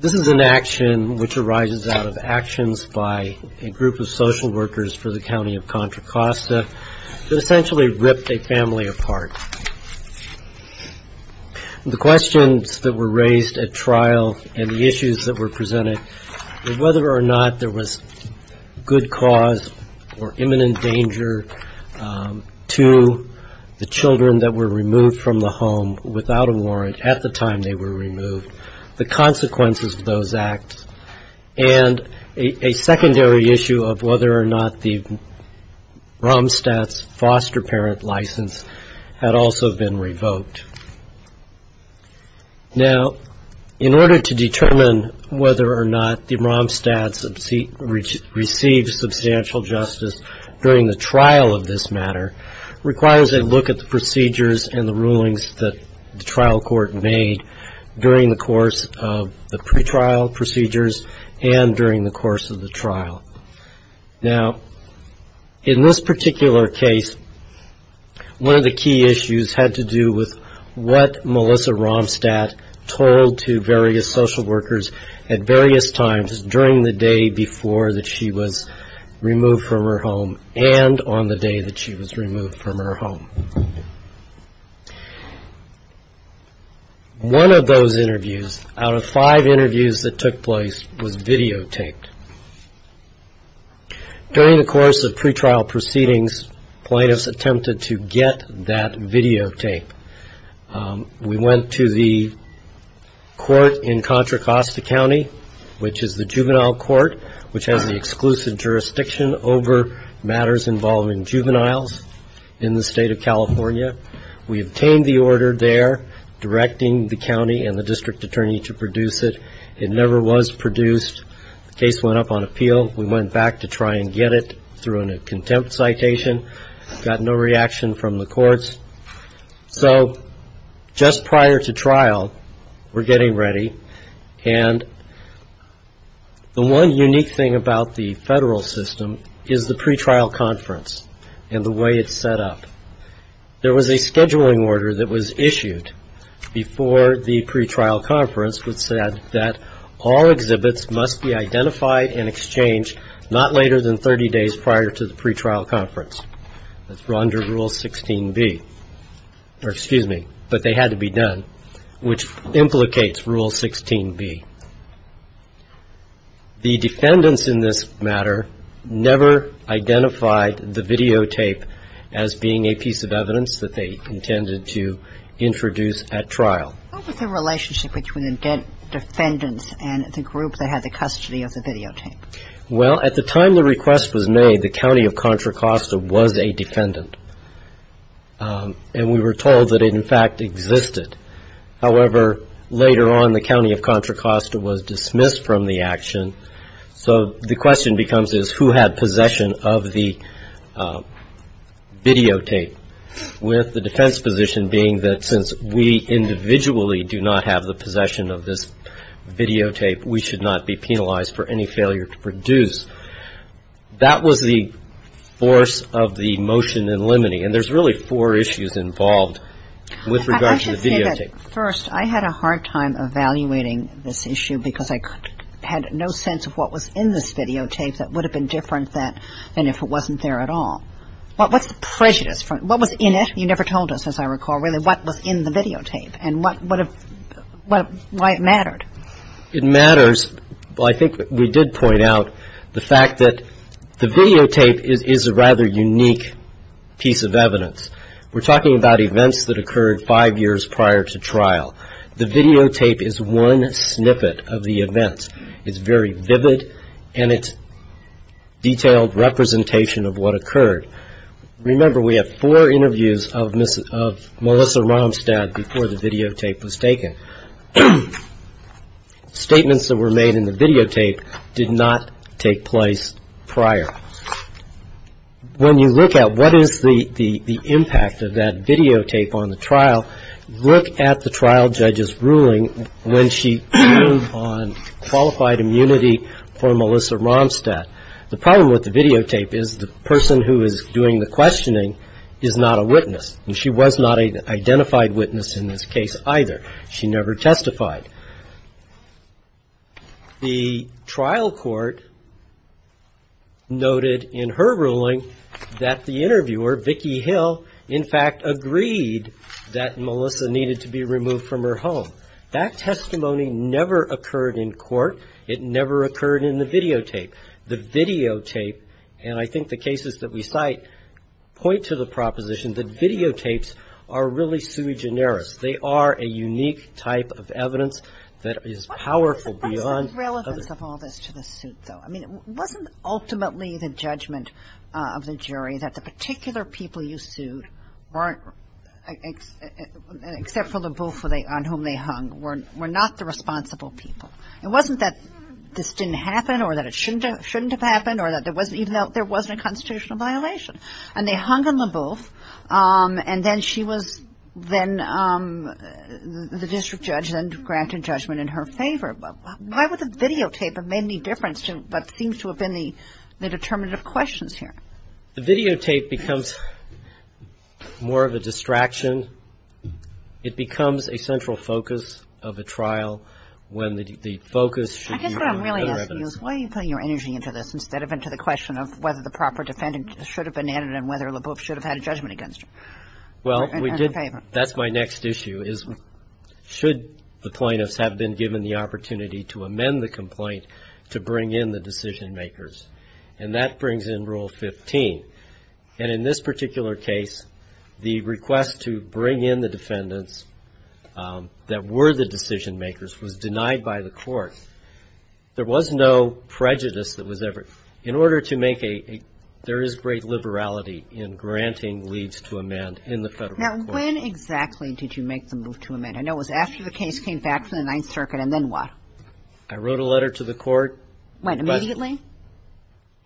This is an action which arises out of actions by a group of social workers for the County of Contra Costa that essentially ripped a family apart. The questions that were raised at trial and the issues that were presented, whether or not there was good cause or imminent danger to the children that were removed from the home without a warrant at the time they were removed, the consequences of those acts, and a secondary issue of whether or not the Romstad's foster parent license had also been revoked. Now, in order to determine whether or not the Romstad's received substantial justice during the trial of this matter, requires a look at the procedures and the rulings that the trial court made during the course of the pretrial procedures and during the course of the trial. Now, in this particular case, one of the key issues had to do with what Melissa Romstad told to various social workers at various times during the day before that she was removed from her home and on the day that she was removed from her home. One of those interviews, out of five interviews that took place, was videotaped. During the course of pretrial proceedings, plaintiffs attempted to get that videotape. We went to the court in Contra Costa County, which is the juvenile court, which has the exclusive jurisdiction over matters involving juveniles in the state of California. We obtained the order there, directing the county and the district attorney to produce it. It never was produced. The case went up on appeal. We went back to try and get it through a contempt citation. Got no reaction from the courts. So just prior to trial, we're getting ready, and the one unique thing about the federal system is the pretrial conference and the way it's set up. There was a scheduling order that was issued before the pretrial conference that said that all exhibits must be identified and exchanged not later than 30 days prior to the pretrial conference. That's under Rule 16b. Or excuse me, but they had to be done, which implicates Rule 16b. The defendants in this matter never identified the videotape as being a piece of evidence that they intended to introduce at trial. What was the relationship between the defendants and the group that had the custody of the videotape? Well, at the time the request was made, the county of Contra Costa was a defendant, and we were told that it, in fact, existed. However, later on, the county of Contra Costa was dismissed from the action. So the question becomes is who had possession of the videotape, with the defense position being that since we individually do not have the possession of this videotape, we should not be penalized for any failure to produce. That was the force of the motion in limine, and there's really four issues involved with regard to the videotape. First, I had a hard time evaluating this issue because I had no sense of what was in this videotape that would have been different than if it wasn't there at all. What's the prejudice? What was in it? You never told us, as I recall, really what was in the videotape and what would have why it mattered. It matters. Well, I think we did point out the fact that the videotape is a rather unique piece of evidence. We're talking about events that occurred five years prior to trial. The videotape is one snippet of the events. It's very vivid, and it's detailed representation of what occurred. Remember, we have four interviews of Melissa Romstad before the videotape was taken. Statements that were made in the videotape did not take place prior. When you look at what is the impact of that videotape on the trial, look at the trial judge's ruling when she ruled on qualified immunity for Melissa Romstad. The problem with the videotape is the person who is doing the questioning is not a witness, and she was not an identified witness in this case either. She never testified. The trial court noted in her ruling that the interviewer, Vicki Hill, in fact agreed that Melissa needed to be removed from her home. That testimony never occurred in court. It never occurred in the videotape. The videotape, and I think the cases that we cite point to the proposition that videotapes are really sui generis. They are a unique type of evidence that is powerful beyond. What is the relevance of all this to the suit, though? I mean, wasn't ultimately the judgment of the jury that the particular people you sued weren't, except for LaBeouf on whom they hung, were not the responsible people? It wasn't that this didn't happen or that it shouldn't have happened or that there wasn't even a constitutional violation. And they hung on LaBeouf, and then she was then, the district judge then granted judgment in her favor. Why would the videotape have made any difference to what seems to have been the determinative questions here? The videotape becomes more of a distraction. It becomes a central focus of a trial when the focus should be on other evidence. I guess what I'm really asking you is why are you putting your energy into this and whether LaBeouf should have had a judgment against her in her favor? Well, we did. That's my next issue is should the plaintiffs have been given the opportunity to amend the complaint to bring in the decision-makers? And that brings in Rule 15. And in this particular case, the request to bring in the defendants that were the decision-makers was denied by the court. There was no prejudice that was ever. In order to make a, there is great liberality in granting leads to amend in the federal court. Now, when exactly did you make the move to amend? I know it was after the case came back from the Ninth Circuit, and then what? I wrote a letter to the court. When, immediately?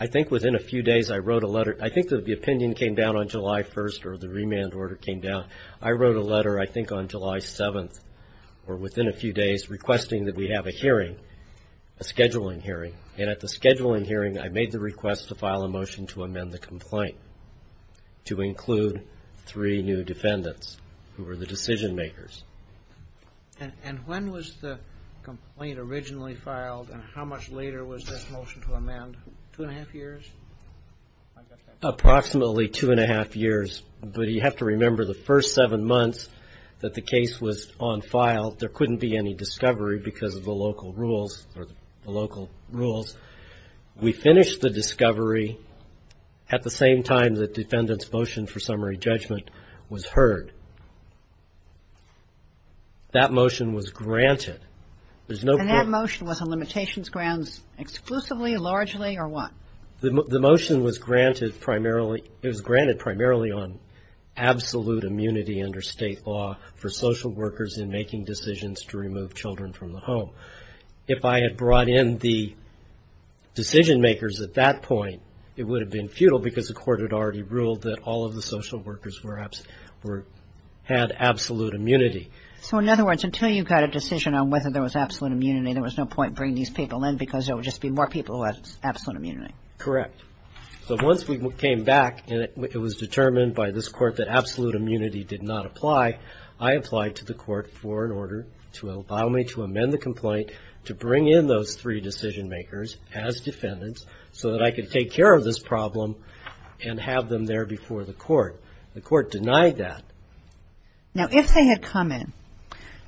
I think within a few days I wrote a letter. I think that the opinion came down on July 1st or the remand order came down. I wrote a letter I think on July 7th or within a few days requesting that we have a hearing, a scheduling hearing. And at the scheduling hearing, I made the request to file a motion to amend the complaint to include three new defendants who were the decision-makers. And when was the complaint originally filed, and how much later was this motion to amend? Two and a half years? Approximately two and a half years. But you have to remember the first seven months that the case was on file, there couldn't be any discovery because of the local rules, or the local rules. We finished the discovery at the same time that defendants' motion for summary judgment was heard. That motion was granted. There's no question. And that motion was on limitations grounds exclusively, largely, or what? The motion was granted primarily, it was granted primarily on absolute immunity under State law for social workers in making decisions to remove children from the home. If I had brought in the decision-makers at that point, it would have been futile because the Court had already ruled that all of the social workers had absolute immunity. So in other words, until you got a decision on whether there was absolute immunity, there was no point bringing these people in because there would just be more people who had absolute immunity. Correct. So once we came back and it was determined by this Court that absolute immunity did not apply, I applied to the Court for an order to allow me to amend the complaint to bring in those three decision-makers as defendants so that I could take care of this problem and have them there before the Court. The Court denied that. Now, if they had come in,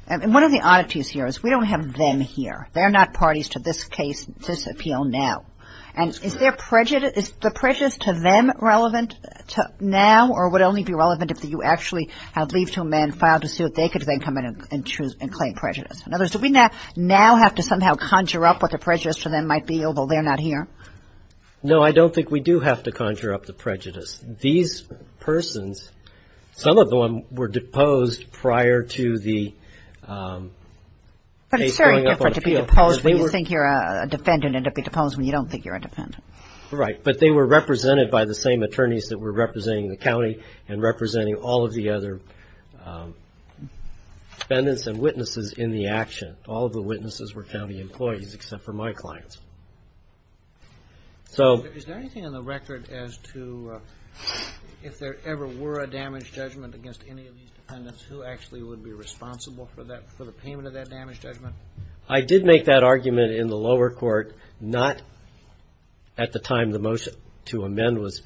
and one of the oddities here is we don't have them here. They're not parties to this case, this appeal now. And is their prejudice, is the prejudice to them relevant now or would only be relevant if you actually had leave to amend, filed a suit, they could then come in and claim prejudice? In other words, do we now have to somehow conjure up what the prejudice to them might be, although they're not here? No, I don't think we do have to conjure up the prejudice. These persons, some of them were deposed prior to the case going up on appeal. Deposed when you think you're a defendant and to be deposed when you don't think you're a defendant. Right, but they were represented by the same attorneys that were representing the county and representing all of the other defendants and witnesses in the action. All of the witnesses were county employees except for my clients. Is there anything on the record as to if there ever were a damage judgment against any of these defendants, who actually would be responsible for the payment of that damage judgment? I did make that argument in the lower court. Not at the time the motion to amend was,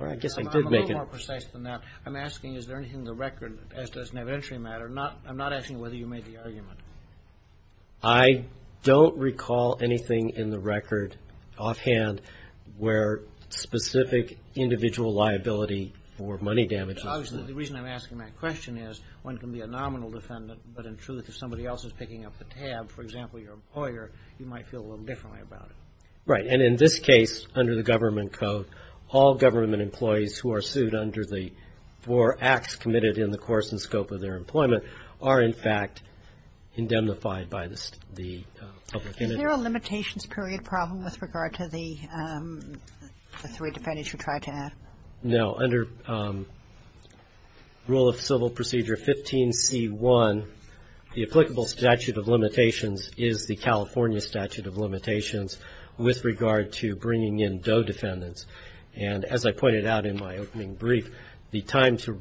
or I guess I did make it. I'm a little more precise than that. I'm asking is there anything in the record as does an evidentiary matter. I'm not asking whether you made the argument. I don't recall anything in the record offhand where specific individual liability for money damage is. Obviously, the reason I'm asking that question is one can be a nominal defendant, but in truth if somebody else is picking up the tab, for example, your employer, you might feel a little differently about it. Right. And in this case, under the government code, all government employees who are sued under the four acts committed in the course and scope of their employment are in fact indemnified by the public. Is there a limitations period problem with regard to the three defendants you tried to add? No. Under rule of civil procedure 15C1, the applicable statute of limitations is the California statute of limitations with regard to bringing in DOE defendants. And as I pointed out in my opening brief, the time to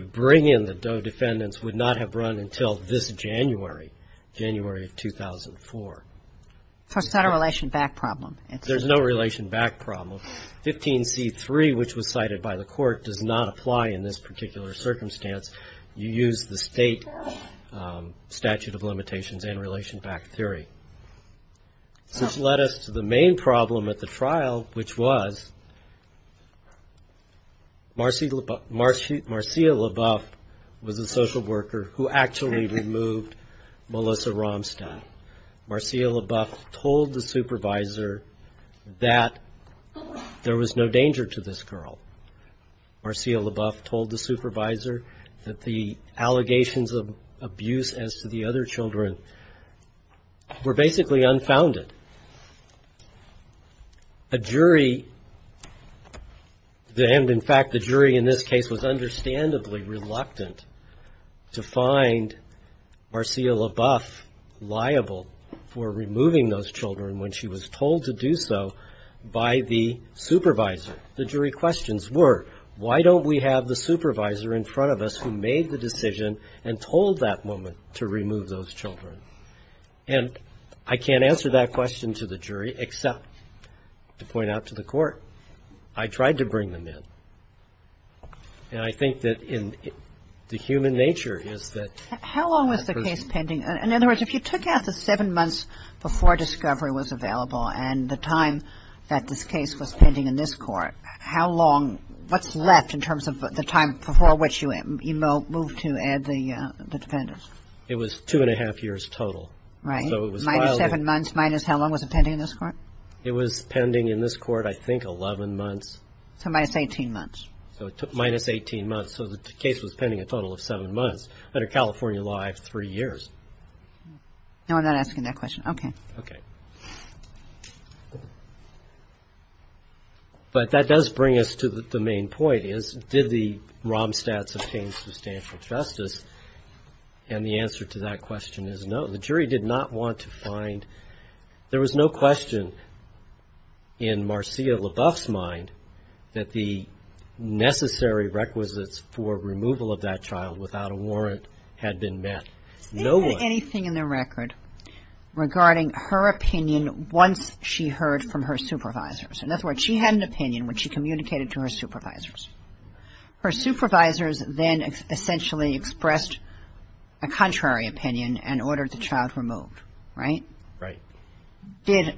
bring in the DOE defendants would not have run until this January, January of 2004. So it's not a relation back problem. There's no relation back problem. 15C3, which was cited by the court, does not apply in this particular circumstance. You use the state statute of limitations and relation back theory. This led us to the main problem at the trial, which was Marcia LaBeouf was a social worker who actually removed Melissa Ramstad. Marcia LaBeouf told the supervisor that there was no danger to this girl. Marcia LaBeouf told the supervisor that the allegations of abuse as to the other children were basically unfounded. A jury, and in fact the jury in this case was understandably reluctant to find Marcia LaBeouf liable for removing those children when she was told to do so by the supervisor. The jury questions were, why don't we have the supervisor in front of us who made the decision and told that woman to remove those children? And I can't answer that question to the jury except to point out to the court, I tried to bring them in. And I think that in the human nature is that the person... Kagan. How long was the case pending? In other words, if you took out the seven months before discovery was available and the time that this case was pending in this court, how long, what's left in terms of the time before which you moved to add the defendants? It was two and a half years total. Right. So it was... Minus seven months, minus how long was it pending in this court? It was pending in this court, I think, 11 months. So minus 18 months. So it took minus 18 months. So the case was pending a total of seven months. Under California law, I have three years. No, I'm not asking that question. Okay. Okay. But that does bring us to the main point is, did the Romstads obtain substantial justice? And the answer to that question is no. The jury did not want to find... There was no question in Marcia LaBeouf's mind that the necessary requisites for removal of that child without a warrant had been met. No one... They didn't have anything in their record regarding her opinion once she heard from her supervisors. In other words, she had an opinion when she communicated to her supervisors. Her supervisors then essentially expressed a contrary opinion and ordered the child removed, right? Right. Did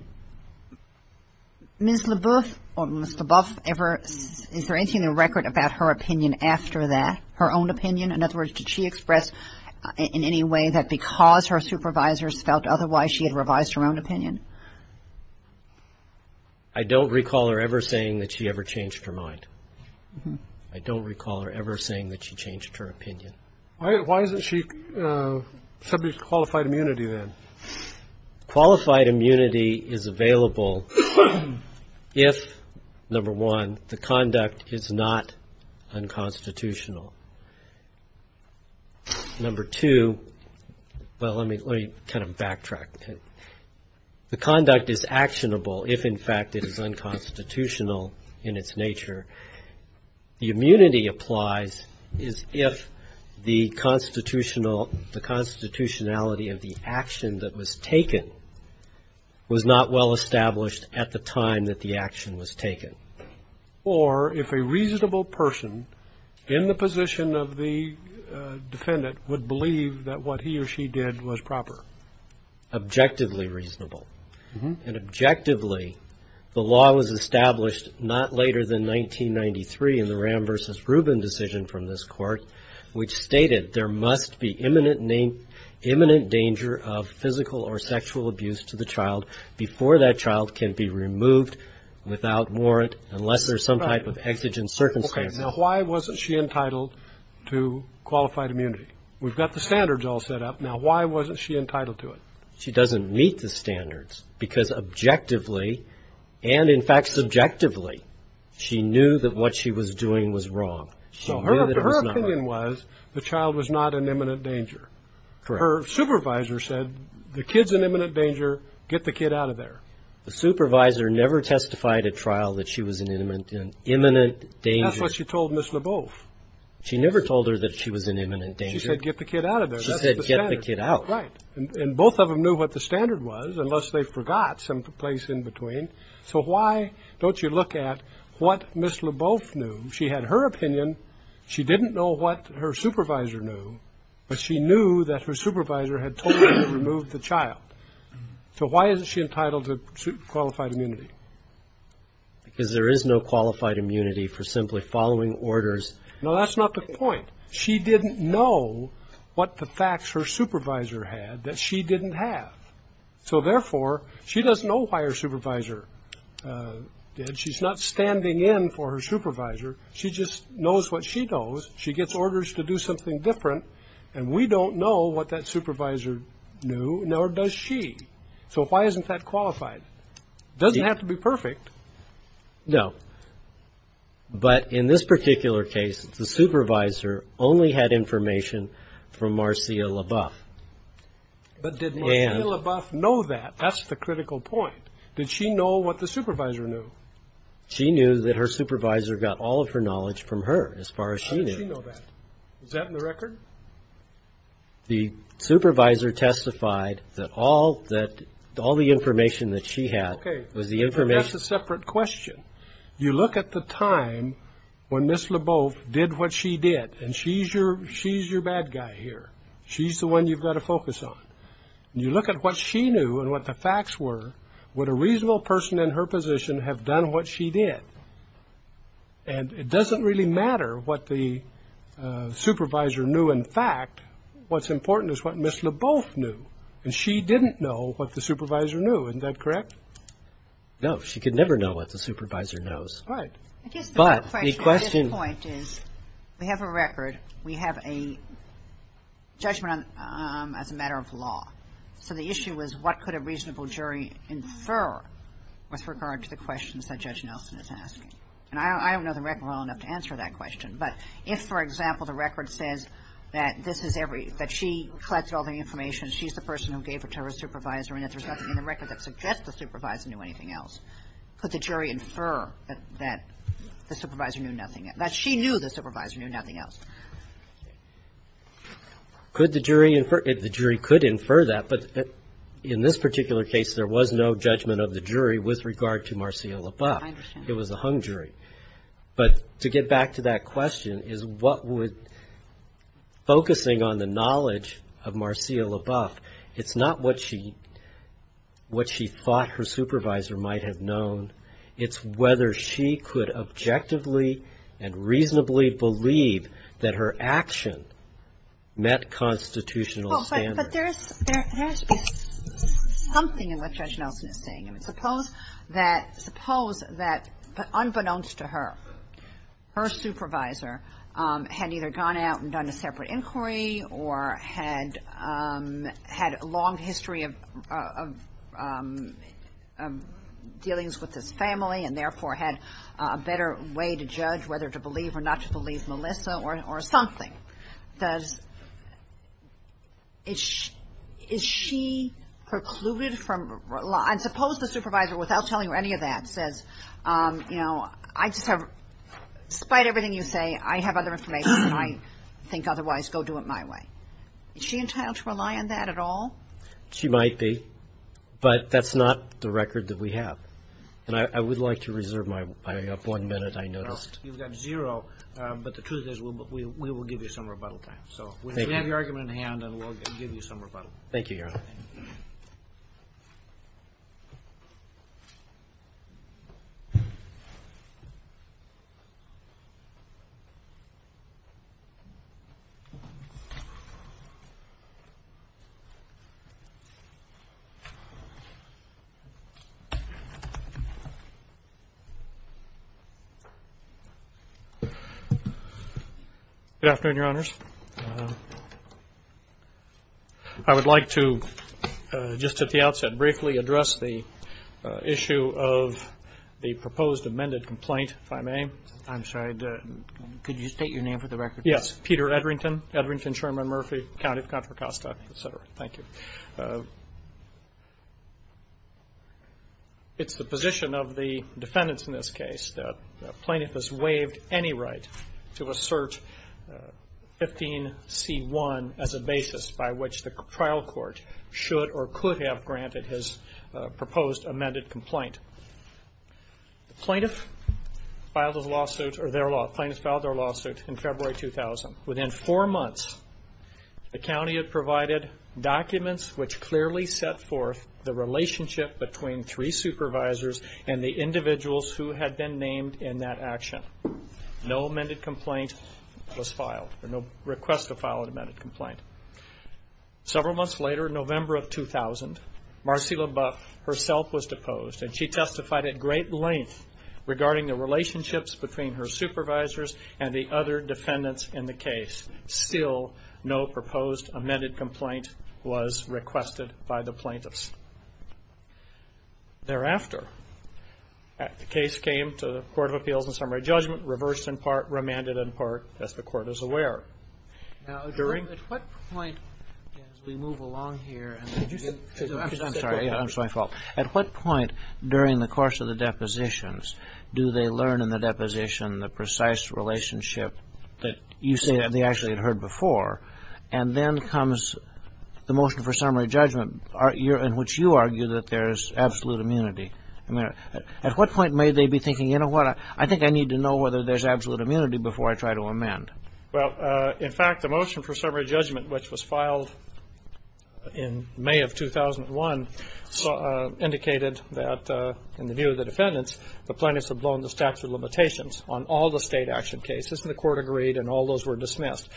Ms. LaBeouf ever... Is there anything in the record about her opinion after that, her own opinion? In other words, did she express in any way that because her supervisors felt otherwise, she had revised her own opinion? I don't recall her ever saying that she ever changed her mind. I don't recall her ever saying that she changed her opinion. Why isn't she subject to qualified immunity then? Qualified immunity is available if, number one, the conduct is not unconstitutional. Number two, well, let me kind of backtrack. The conduct is actionable if, in fact, it is unconstitutional in its nature. The immunity applies if the constitutionality of the action that was taken was not well established at the time that the action was taken. Or if a reasonable person in the position of the defendant would believe that what he or she did was proper. Objectively reasonable. And objectively, the law was established not later than 1993 in the Ram v. Rubin decision from this court, which stated there must be imminent danger of physical or sexual abuse to the child before that child can be removed without warrant unless there's some type of exigent circumstance. Okay. Now, why wasn't she entitled to qualified immunity? We've got the standards all set up. Now, why wasn't she entitled to it? She doesn't meet the standards because objectively and, in fact, subjectively, she knew that what she was doing was wrong. Her opinion was the child was not in imminent danger. Correct. Her supervisor said the kid's in imminent danger. Get the kid out of there. The supervisor never testified at trial that she was in imminent danger. That's what she told Ms. Leboeuf. She never told her that she was in imminent danger. She said get the kid out of there. She said get the kid out. Right. And both of them knew what the standard was unless they forgot some place in between. So why don't you look at what Ms. Leboeuf knew? She had her opinion. She didn't know what her supervisor knew. But she knew that her supervisor had totally removed the child. So why isn't she entitled to qualified immunity? Because there is no qualified immunity for simply following orders. No, that's not the point. She didn't know what the facts her supervisor had that she didn't have. So, therefore, she doesn't know why her supervisor did. She's not standing in for her supervisor. She just knows what she knows. She gets orders to do something different. And we don't know what that supervisor knew, nor does she. So why isn't that qualified? It doesn't have to be perfect. No. But in this particular case, the supervisor only had information from Marcia Leboeuf. But did Marcia Leboeuf know that? That's the critical point. Did she know what the supervisor knew? She knew that her supervisor got all of her knowledge from her as far as she knew. Did she know that? Is that in the record? The supervisor testified that all the information that she had was the information. Okay, but that's a separate question. You look at the time when Ms. Leboeuf did what she did, and she's your bad guy here. She's the one you've got to focus on. And you look at what she knew and what the facts were, would a reasonable person in her position have done what she did? And it doesn't really matter what the supervisor knew in fact. What's important is what Ms. Leboeuf knew. And she didn't know what the supervisor knew. Isn't that correct? No. She could never know what the supervisor knows. Right. But the question at this point is we have a record. We have a judgment as a matter of law. So the issue is what could a reasonable jury infer with regard to the questions that Judge Nelson is asking? And I don't know the record well enough to answer that question. But if, for example, the record says that this is every – that she collected all the information, she's the person who gave it to her supervisor, and if there's nothing in the record that suggests the supervisor knew anything else, could the jury infer that the supervisor knew nothing – that she knew the supervisor knew nothing else? Could the jury infer – the jury could infer that, but in this particular case there was no judgment of the jury with regard to Marcia Leboeuf. I understand. It was a hung jury. But to get back to that question is what would – focusing on the knowledge of Marcia Leboeuf, it's not what she thought her supervisor might have known. It's whether she could objectively and reasonably believe that her action met constitutional standards. But there is something in what Judge Nelson is saying. I mean, suppose that – suppose that unbeknownst to her, her supervisor had either gone out and done a separate inquiry or had a long history of dealings with his family and therefore had a better way to judge whether to believe or not to believe Melissa or something. Does – is she precluded from – and suppose the supervisor without telling her any of that says, you know, I just have – despite everything you say, I have other information than I think otherwise. Go do it my way. Is she entitled to rely on that at all? She might be. But that's not the record that we have. And I would like to reserve my one minute I noticed. You've got zero. But the truth is we will give you some rebuttal time. So we have your argument in hand and we'll give you some rebuttal. Thank you, Your Honor. Thank you, Your Honor. Good afternoon, Your Honors. I would like to, just at the outset, briefly address the issue of the proposed amended complaint, if I may. I'm sorry. Could you state your name for the record? Yes. Peter Edrington. Edrington, Sherman, Murphy, County of Contra Costa, et cetera. Thank you. It's the position of the defendants in this case that a plaintiff has waived any right to assert 15C1 as a basis by which the trial court should or could have granted his proposed amended complaint. The plaintiff filed their lawsuit in February 2000. Within four months, the county had provided documents which clearly set forth the relationship between three supervisors and the individuals who had been named in that action. No amended complaint was filed or no request to file an amended complaint. Several months later, November of 2000, Marcella Buck herself was deposed, and she testified at great length regarding the relationships between her supervisors and the other defendants in the case. Still, no proposed amended complaint was requested by the plaintiffs. Thereafter, the case came to the Court of Appeals and Summary Judgment, reversed in part, remanded in part, as the Court is aware. Now, Edrington, at what point, as we move along here. I'm sorry. I'm sorry. My fault. At what point during the course of the depositions do they learn in the deposition the precise relationship that you say they actually had heard before, and then comes the motion for summary judgment in which you argue that there is absolute immunity? At what point may they be thinking, you know what, I think I need to know whether there's absolute immunity before I try to amend? Well, in fact, the motion for summary judgment, which was filed in May of 2001, indicated that, in the view of the defendants, the plaintiffs had blown the statute of limitations on all the state action cases, and the Court agreed and all those were dismissed.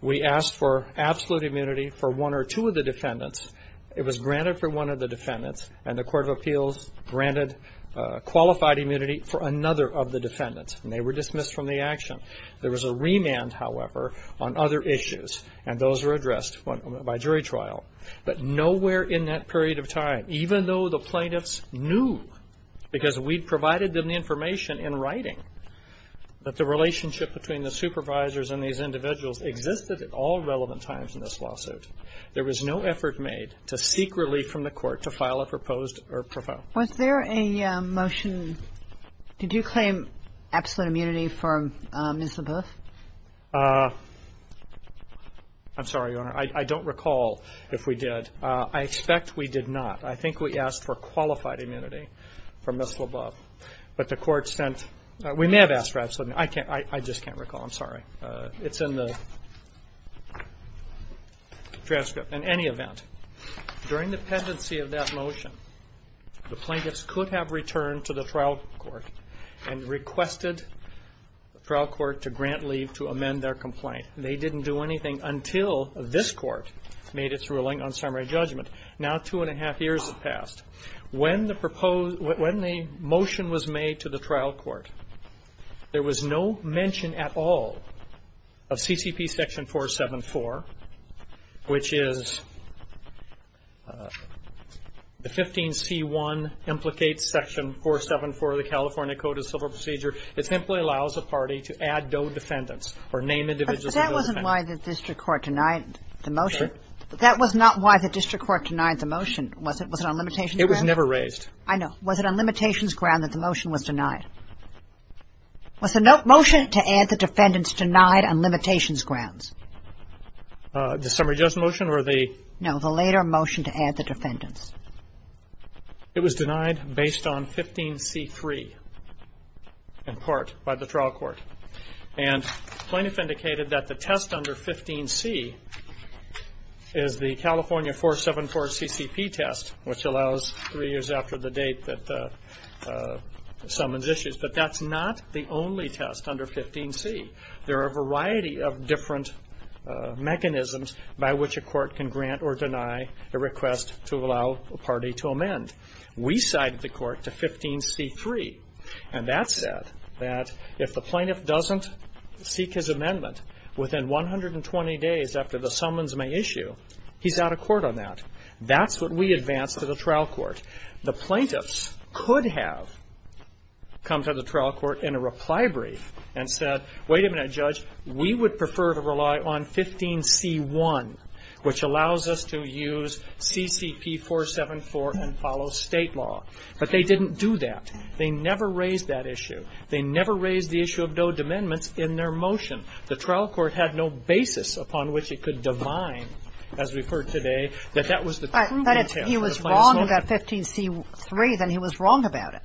We asked for absolute immunity for one or two of the defendants. It was granted for one of the defendants, and the Court of Appeals granted qualified immunity for another of the defendants, and they were dismissed from the action. There was a remand, however, on other issues, and those were addressed by jury trial. But nowhere in that period of time, even though the plaintiffs knew, because we'd provided them the information in writing, that the relationship between the supervisors and these individuals existed at all relevant times in this lawsuit. There was no effort made to seek relief from the Court to file a proposed or proposed motion. Was there a motion? Did you claim absolute immunity for Ms. LaBeouf? I'm sorry, Your Honor. I don't recall if we did. I expect we did not. I think we asked for qualified immunity for Ms. LaBeouf. But the Court sent we may have asked for absolute immunity. I just can't recall. I'm sorry. It's in the transcript. In any event, during the pendency of that motion, the plaintiffs could have returned to the trial court and requested the trial court to grant leave to amend their complaint. They didn't do anything until this court made its ruling on summary judgment. Now two and a half years have passed. When the motion was made to the trial court, there was no mention at all of CCP Section 474, which is the 15C1 implicates Section 474 of the California Code of Civil Procedure. It simply allows a party to add DOE defendants or name individuals as DOE defendants. But that wasn't why the district court denied the motion. That was not why the district court denied the motion, was it? Was it on limitations grounds? It was never raised. I know. Was it on limitations grounds that the motion was denied? Was the motion to add the defendants denied on limitations grounds? The summary judgment motion or the? No, the later motion to add the defendants. It was denied based on 15C3 in part by the trial court. And plaintiff indicated that the test under 15C is the California 474 CCP test, which allows three years after the date that summons issues. But that's not the only test under 15C. There are a variety of different mechanisms by which a court can grant or deny a request to allow a party to amend. We cited the court to 15C3. And that said that if the plaintiff doesn't seek his amendment within 120 days after the summons may issue, he's out of court on that. That's what we advanced to the trial court. The plaintiffs could have come to the trial court in a reply brief and said, wait a minute, Judge, we would prefer to rely on 15C1, which allows us to use CCP 474 and follow state law. But they didn't do that. They never raised that issue. They never raised the issue of no amendments in their motion. The trial court had no basis upon which it could divine, as we've heard today, that that was the true detail of the plaintiff's motion. But if he was wrong about 15C3, then he was wrong about it.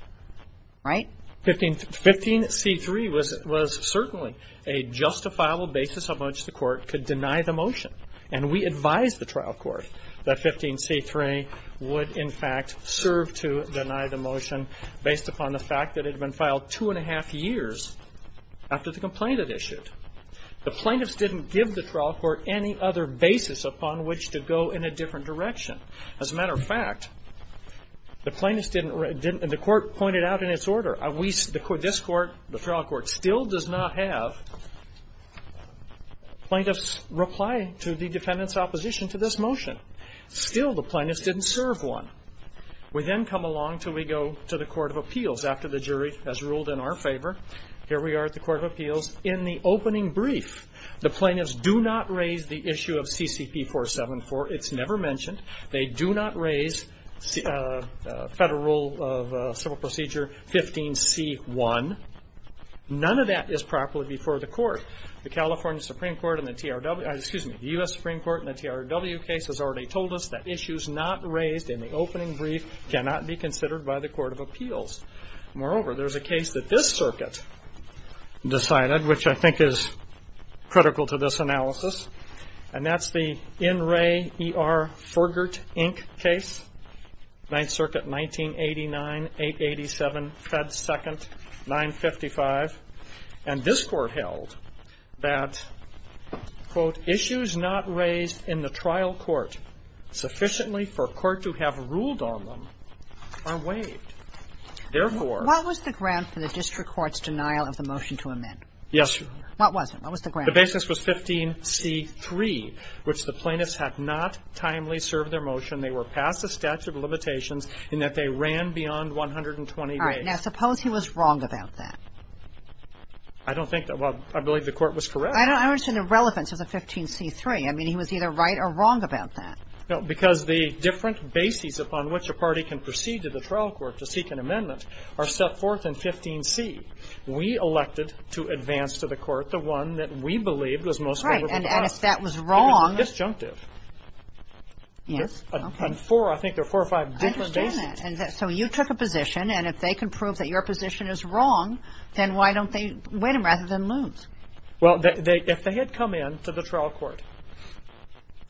Right? 15C3 was certainly a justifiable basis of how much the court could deny the motion. And we advised the trial court that 15C3 would, in fact, serve to deny the motion based upon the fact that it had been filed two and a half years after the complaint had issued. The plaintiffs didn't give the trial court any other basis upon which to go in a different direction. As a matter of fact, the plaintiffs didn't, and the court pointed out in its order, this court, the trial court, still does not have plaintiffs' reply to the defendant's opposition to this motion. Still, the plaintiffs didn't serve one. We then come along until we go to the court of appeals after the jury has ruled in our favor. Here we are at the court of appeals. In the opening brief, the plaintiffs do not raise the issue of CCP 474. It's never mentioned. They do not raise Federal Civil Procedure 15C1. None of that is properly before the court. The California Supreme Court in the TRW, excuse me, the U.S. Supreme Court in the TRW case has already told us that issues not raised in the opening brief cannot be considered by the court of appeals. Moreover, there's a case that this circuit decided, which I think is critical to this analysis, and that's the In Re, E.R. that, quote, issues not raised in the trial court sufficiently for a court to have ruled on them are waived. Therefore --" What was the ground for the district court's denial of the motion to amend? Yes, Your Honor. What was it? What was the ground? The basis was 15C3, which the plaintiffs had not timely served their motion. They were past the statute of limitations in that they ran beyond 120 days. All right. Now, suppose he was wrong about that. I don't think that one. I believe the court was correct. I don't understand the relevance of the 15C3. I mean, he was either right or wrong about that. No, because the different bases upon which a party can proceed to the trial court to seek an amendment are set forth in 15C. We elected to advance to the court the one that we believed was most favorable to us. Right. And if that was wrong --" Even the disjunctive. Yes. Okay. On four, I think there are four or five different bases. I understand that. And so you took a position, and if they can prove that your position is wrong, then why don't they win rather than lose? Well, if they had come in to the trial court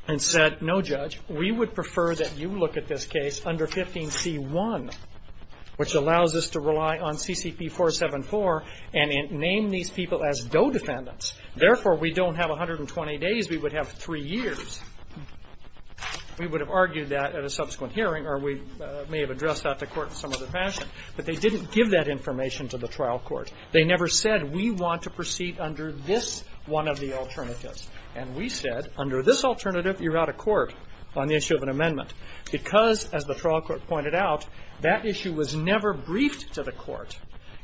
and said, no, Judge, we would prefer that you look at this case under 15C1, which allows us to rely on CCP 474 and name these people as DOE defendants. Therefore, we don't have 120 days. We would have three years. We would have argued that at a subsequent hearing, or we may have addressed that to court in some other fashion. But they didn't give that information to the trial court. They never said, we want to proceed under this one of the alternatives. And we said, under this alternative, you're out of court on the issue of an amendment, because, as the trial court pointed out, that issue was never briefed to the court.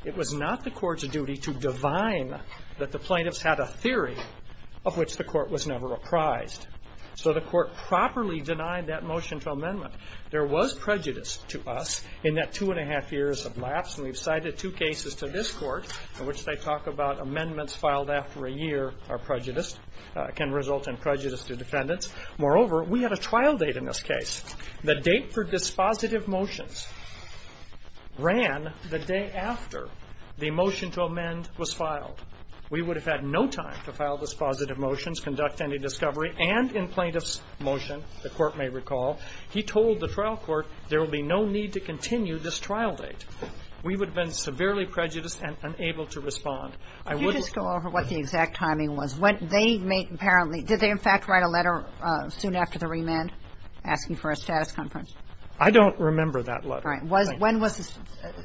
It was not the court's duty to divine that the plaintiffs had a theory of which the court was never apprised. So the court properly denied that motion to amendment. There was prejudice to us in that two and a half years of lapse, and we've cited two cases to this court in which they talk about amendments filed after a year are prejudiced, can result in prejudice to defendants. Moreover, we had a trial date in this case. The date for dispositive motions ran the day after the motion to amend was filed. We would have had no time to file dispositive motions, conduct any discovery, and in plaintiff's motion, the court may recall, he told the trial court, there will be no need to continue this trial date. We would have been severely prejudiced and unable to respond. I wouldn't go over what the exact timing was. When they made apparently, did they in fact write a letter soon after the remand asking for a status conference? I don't remember that letter. All right. When was this?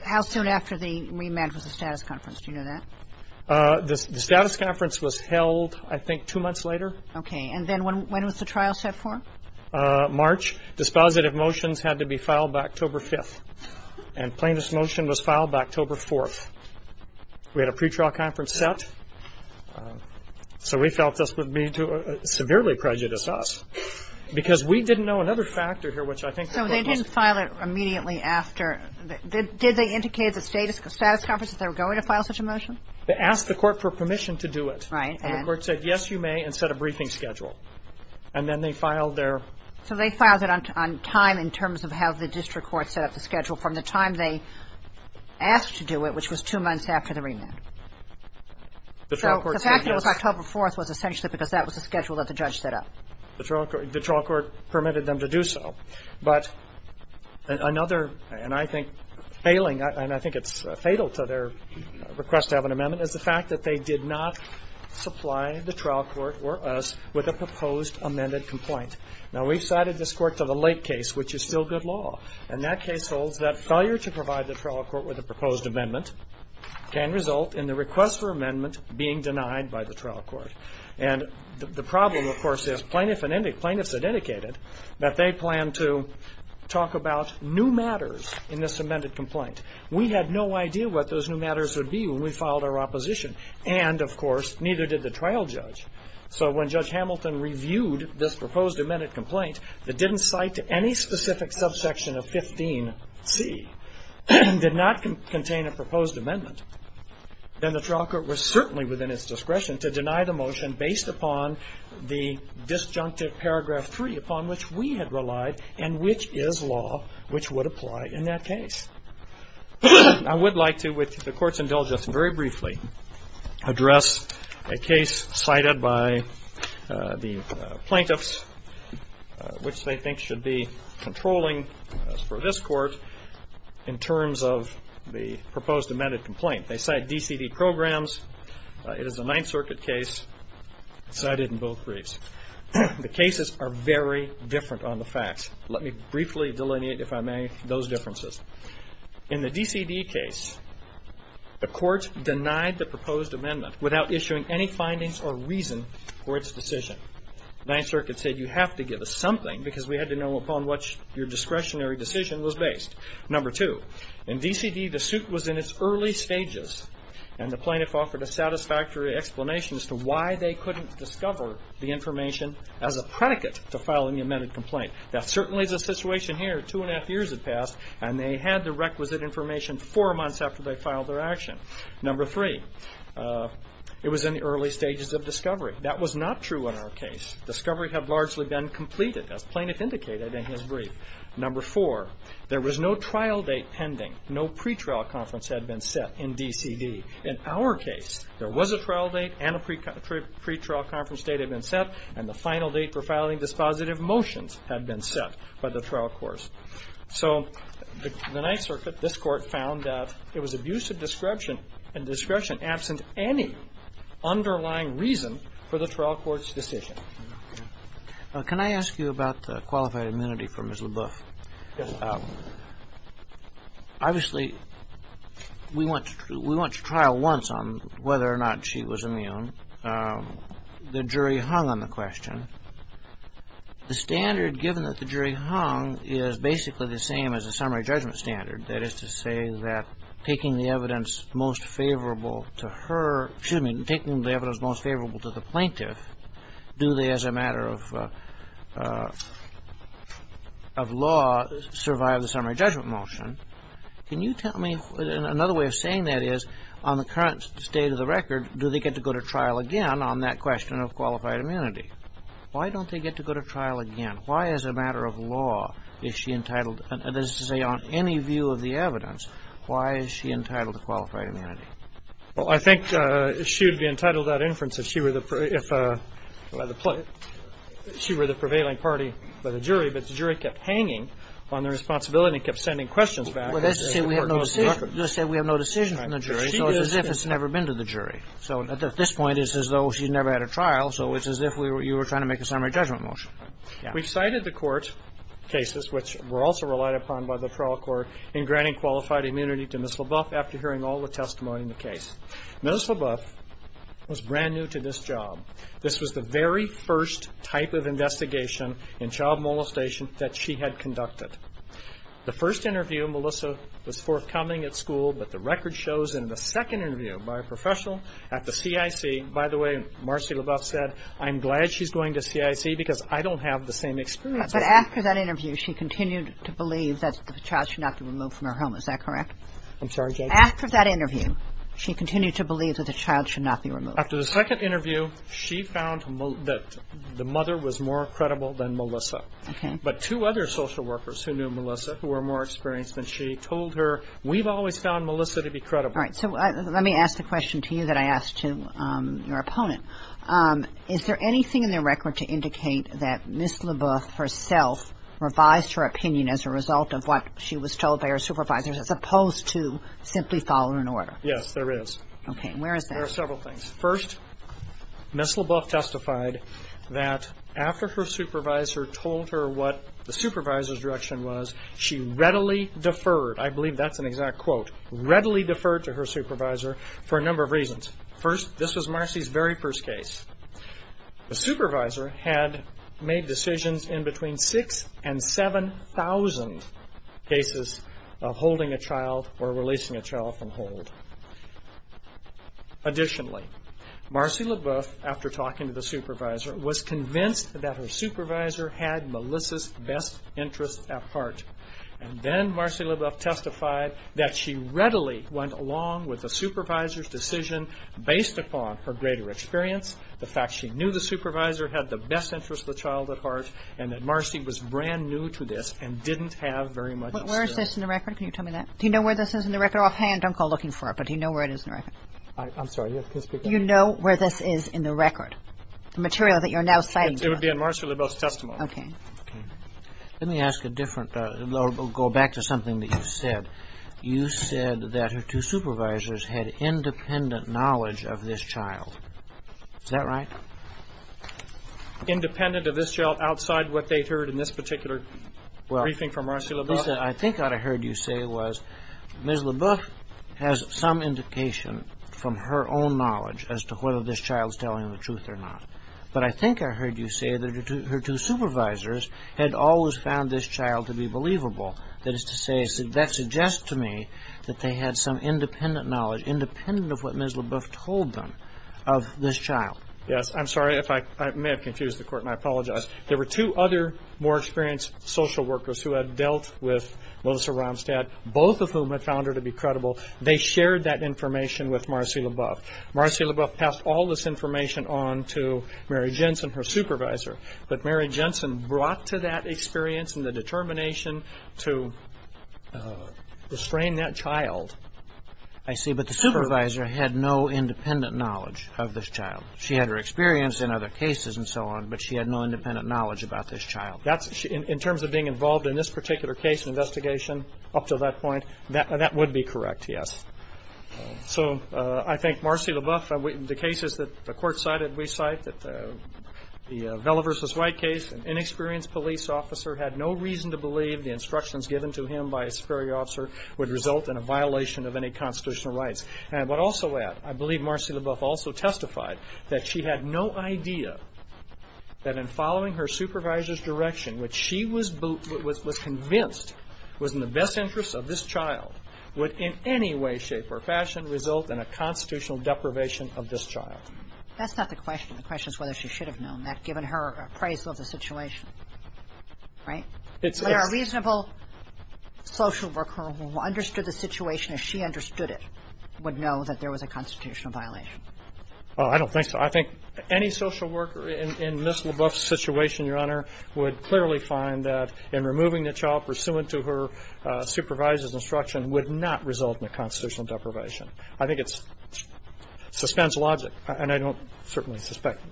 How soon after the remand was the status conference? Do you know that? The status conference was held, I think, two months later. Okay. And then when was the trial set for? March. Dispositive motions had to be filed by October 5th. And plaintiff's motion was filed by October 4th. We had a pretrial conference set. So we felt this would be to severely prejudice us because we didn't know another factor here, which I think the court was. So they didn't file it immediately after. Did they indicate at the status conference that they were going to file such a motion? They asked the court for permission to do it. Right. And the court said, yes, you may, and set a briefing schedule. And then they filed their. So they filed it on time in terms of how the district court set up the schedule from the time they asked to do it, which was two months after the remand. So the fact that it was October 4th was essentially because that was the schedule that the judge set up. The trial court permitted them to do so. But another, and I think failing, and I think it's fatal to their request to have an amendment, is the fact that they did not supply the trial court or us with a proposed amended complaint. Now, we've cited this court to the late case, which is still good law. And that case holds that failure to provide the trial court with a proposed amendment can result in the request for amendment being denied by the trial court. And the problem, of course, is plaintiffs had indicated that they planned to talk about new matters in this amended complaint. We had no idea what those new matters would be when we filed our opposition. And, of course, neither did the trial judge. So when Judge Hamilton reviewed this proposed amended complaint that didn't cite any specific subsection of 15C and did not contain a proposed amendment, then the trial court was certainly within its discretion to deny the motion based upon the disjunctive paragraph 3 upon which we had relied and which is law, which would apply in that case. I would like to, with the Court's indulgence, very briefly address a case cited by the plaintiffs, which they think should be controlling for this court in terms of the proposed amended complaint. They cite DCD programs. It is a Ninth Circuit case cited in both briefs. The cases are very different on the facts. Let me briefly delineate, if I may, those differences. In the DCD case, the court denied the proposed amendment without issuing any findings or reason for its decision. The Ninth Circuit said you have to give us something because we had to know upon which your discretionary decision was based. Number two, in DCD the suit was in its early stages and the plaintiff offered a satisfactory explanation as to why they couldn't discover the information as a predicate to filing the amended complaint. That certainly is the situation here. Two and a half years had passed and they had the requisite information four months after they filed their action. That was not true in our case. Discovery had largely been completed, as the plaintiff indicated in his brief. Number four, there was no trial date pending. No pretrial conference had been set in DCD. In our case, there was a trial date and a pretrial conference date had been set, and the final date for filing dispositive motions had been set by the trial course. So the Ninth Circuit, this Court, found that there was abusive description and discretion absent any underlying reason for the trial court's decision. Can I ask you about the qualified immunity for Ms. Leboeuf? Yes, Your Honor. Obviously, we went to trial once on whether or not she was immune. The jury hung on the question. The standard given that the jury hung is basically the same as a summary judgment standard. That is to say that taking the evidence most favorable to her, excuse me, taking the evidence most favorable to the plaintiff, do they, as a matter of law, survive the summary judgment motion? Can you tell me, another way of saying that is, on the current state of the record, do they get to go to trial again on that question of qualified immunity? Why don't they get to go to trial again? Why, as a matter of law, is she entitled, as to say, on any view of the evidence, why is she entitled to qualified immunity? Well, I think she would be entitled to that inference if she were the prevailing party by the jury, but the jury kept hanging on their responsibility and kept sending questions back. Well, that's to say we have no decision. That's to say we have no decision from the jury. So it's as if it's never been to the jury. So at this point, it's as though she's never had a trial. So it's as if you were trying to make a summary judgment motion. We've cited the court cases, which were also relied upon by the trial court, in granting qualified immunity to Ms. LaBeouf after hearing all the testimony in the case. Ms. LaBeouf was brand new to this job. This was the very first type of investigation in child molestation that she had conducted. The first interview, Melissa was forthcoming at school, but the record shows in the second interview by a professional at the CIC, by the way, Marcy LaBeouf said, I'm glad she's going to CIC because I don't have the same experience. But after that interview, she continued to believe that the child should not be removed from her home. Is that correct? I'm sorry. After that interview, she continued to believe that the child should not be removed. After the second interview, she found that the mother was more credible than Melissa. Okay. But two other social workers who knew Melissa, who were more experienced than she, told her, we've always found Melissa to be credible. All right. So let me ask the question to you that I asked to your opponent. Is there anything in the record to indicate that Ms. LaBeouf herself revised her opinion as a result of what she was told by her supervisors as opposed to simply following an order? Yes, there is. Okay. And where is that? There are several things. First, Ms. LaBeouf testified that after her supervisor told her what the supervisor's direction was, she readily deferred, I believe that's an exact quote, readily deferred to her supervisor for a number of reasons. First, this was Marcy's very first case. The supervisor had made decisions in between 6,000 and 7,000 cases of holding a child or releasing a child from hold. Additionally, Marcy LaBeouf, after talking to the supervisor, was convinced that her supervisor had Melissa's best interest at heart. And then Marcy LaBeouf testified that she readily went along with the supervisor's decision based upon her greater experience, the fact she knew the supervisor had the best interest of the child at heart, and that Marcy was brand new to this and didn't have very much experience. Where is this in the record? Can you tell me that? Do you know where this is in the record? If you're offhand, don't go looking for it. But do you know where it is in the record? I'm sorry. Yes, please speak up. Do you know where this is in the record, the material that you're now citing? It would be in Marcy LaBeouf's testimony. Okay. Let me ask a different, go back to something that you said. You said that her two supervisors had independent knowledge of this child. Is that right? Independent of this child outside what they'd heard in this particular briefing from Marcy LaBeouf? I think what I heard you say was Ms. LaBeouf has some indication from her own knowledge as to whether this child is telling the truth or not. But I think I heard you say that her two supervisors had always found this child to be believable. That is to say, that suggests to me that they had some independent knowledge, independent of what Ms. LaBeouf told them, of this child. Yes. I'm sorry if I may have confused the court, and I apologize. There were two other more experienced social workers who had dealt with Melissa Ramstad, both of whom had found her to be credible. They shared that information with Marcy LaBeouf. Marcy LaBeouf passed all this information on to Mary Jensen, her supervisor. But Mary Jensen brought to that experience and the determination to restrain that child. I see. But the supervisor had no independent knowledge of this child. She had her experience in other cases and so on, but she had no independent knowledge about this child. In terms of being involved in this particular case investigation up to that point, that would be correct, yes. So I think Marcy LaBeouf, the cases that the court cited we cite, that the Vela v. White case, an inexperienced police officer had no reason to believe the instructions given to him by his superior officer would result in a violation of any constitutional rights. And I would also add, I believe Marcy LaBeouf also testified that she had no idea that in following her supervisor's direction, which she was convinced was in the best interest of this child, would in any way, shape, or fashion result in a constitutional deprivation of this child. That's not the question. The question is whether she should have known that given her appraisal of the situation. Right? It's a reasonable social worker who understood the situation as she understood it. Would know that there was a constitutional violation. Oh, I don't think so. I think any social worker in Ms. LaBeouf's situation, Your Honor, would clearly find that in removing the child pursuant to her supervisor's instruction would not result in a constitutional deprivation. I think it suspends logic. And I don't certainly suspect,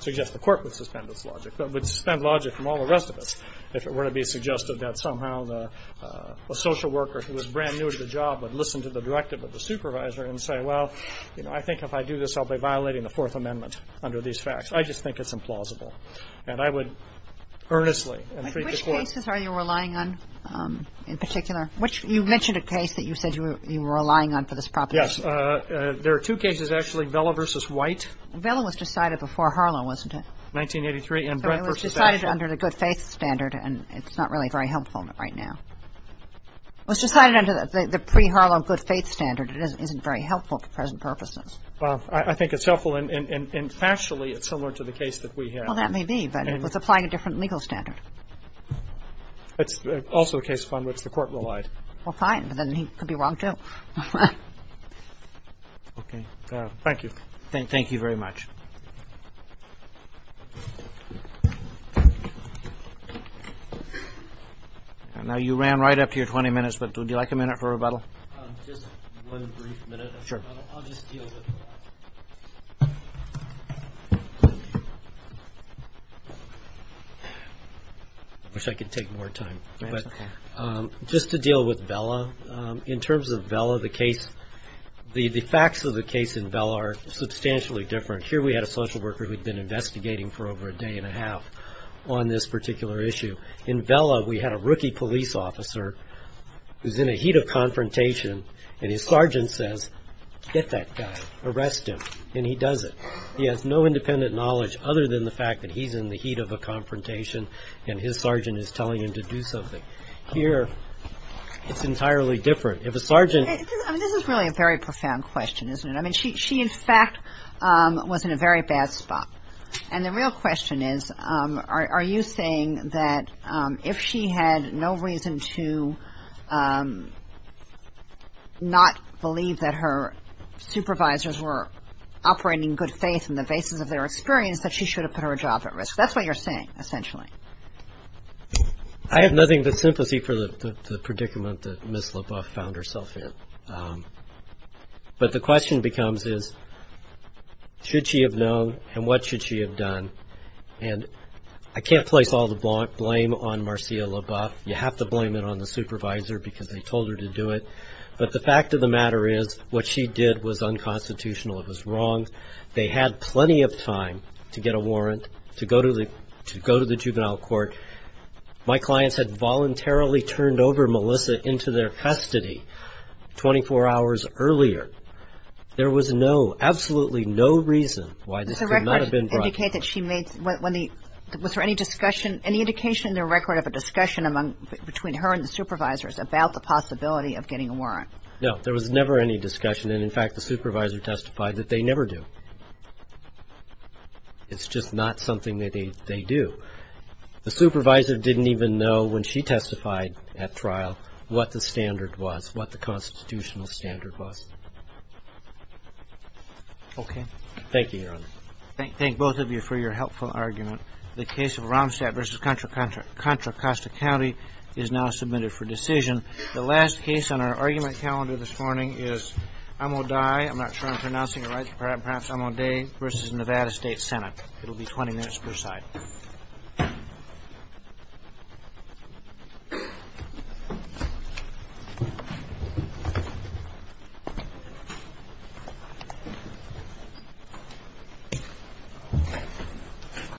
suggest the court would suspend its logic. But it would suspend logic from all the rest of us if it were to be suggested that somehow the social worker who was brand new to the job would listen to the directive of the supervisor and say, well, you know, I think if I do this, I'll be violating the Fourth Amendment under these facts. I just think it's implausible. And I would earnestly entreat the court. But which cases are you relying on in particular? You mentioned a case that you said you were relying on for this proposition. Yes. There are two cases, actually, Vela v. White. Vela was decided before Harlow, wasn't it? 1983 and Brent v. Asheville. It was decided under the good faith standard. And it's not really very helpful right now. It was decided under the pre-Harlow good faith standard. It isn't very helpful for present purposes. Well, I think it's helpful. And factually, it's similar to the case that we have. Well, that may be. But it's applying a different legal standard. It's also a case upon which the court relied. Well, fine. But then he could be wrong, too. Okay. Thank you. Thank you very much. Now, you ran right up to your 20 minutes, but would you like a minute for rebuttal? Just one brief minute of rebuttal. Sure. I'll just deal with that. I wish I could take more time. Just to deal with Vela, in terms of Vela, the case, the facts of the case in Vela are substantially different. Here we had a social worker who had been investigating for over a day and a half on this particular issue. In Vela, we had a rookie police officer who's in a heat of confrontation. And his sergeant says, get that guy. Arrest him. And he does it. He has no independent knowledge other than the fact that he's in the heat of a confrontation. And his sergeant is telling him to do something. Here, it's entirely different. I mean, this is really a very profound question, isn't it? I mean, she, in fact, was in a very bad spot. And the real question is, are you saying that if she had no reason to not believe that her supervisors were operating in good faith in the basis of their experience, that she should have put her job at risk? That's what you're saying, essentially. I have nothing but sympathy for the predicament that Ms. LaBeouf found herself in. But the question becomes is, should she have known and what should she have done? And I can't place all the blame on Marcia LaBeouf. You have to blame it on the supervisor because they told her to do it. But the fact of the matter is, what she did was unconstitutional. It was wrong. They had plenty of time to get a warrant, to go to the juvenile court. My clients had voluntarily turned over Melissa into their custody 24 hours earlier. There was no, absolutely no reason why this could not have been brought forward. Was there any discussion, any indication in the record of a discussion between her and the supervisors about the possibility of getting a warrant? No, there was never any discussion. And, in fact, the supervisor testified that they never do. It's just not something that they do. The supervisor didn't even know when she testified at trial what the standard was, what the constitutional standard was. Okay. Thank you, Your Honor. Thank both of you for your helpful argument. The case of Romstadt v. Contra Costa County is now submitted for decision. The last case on our argument calendar this morning is Amodai. I'm not sure I'm pronouncing it right. Perhaps Amodai v. Nevada State Senate. It will be 20 minutes per side.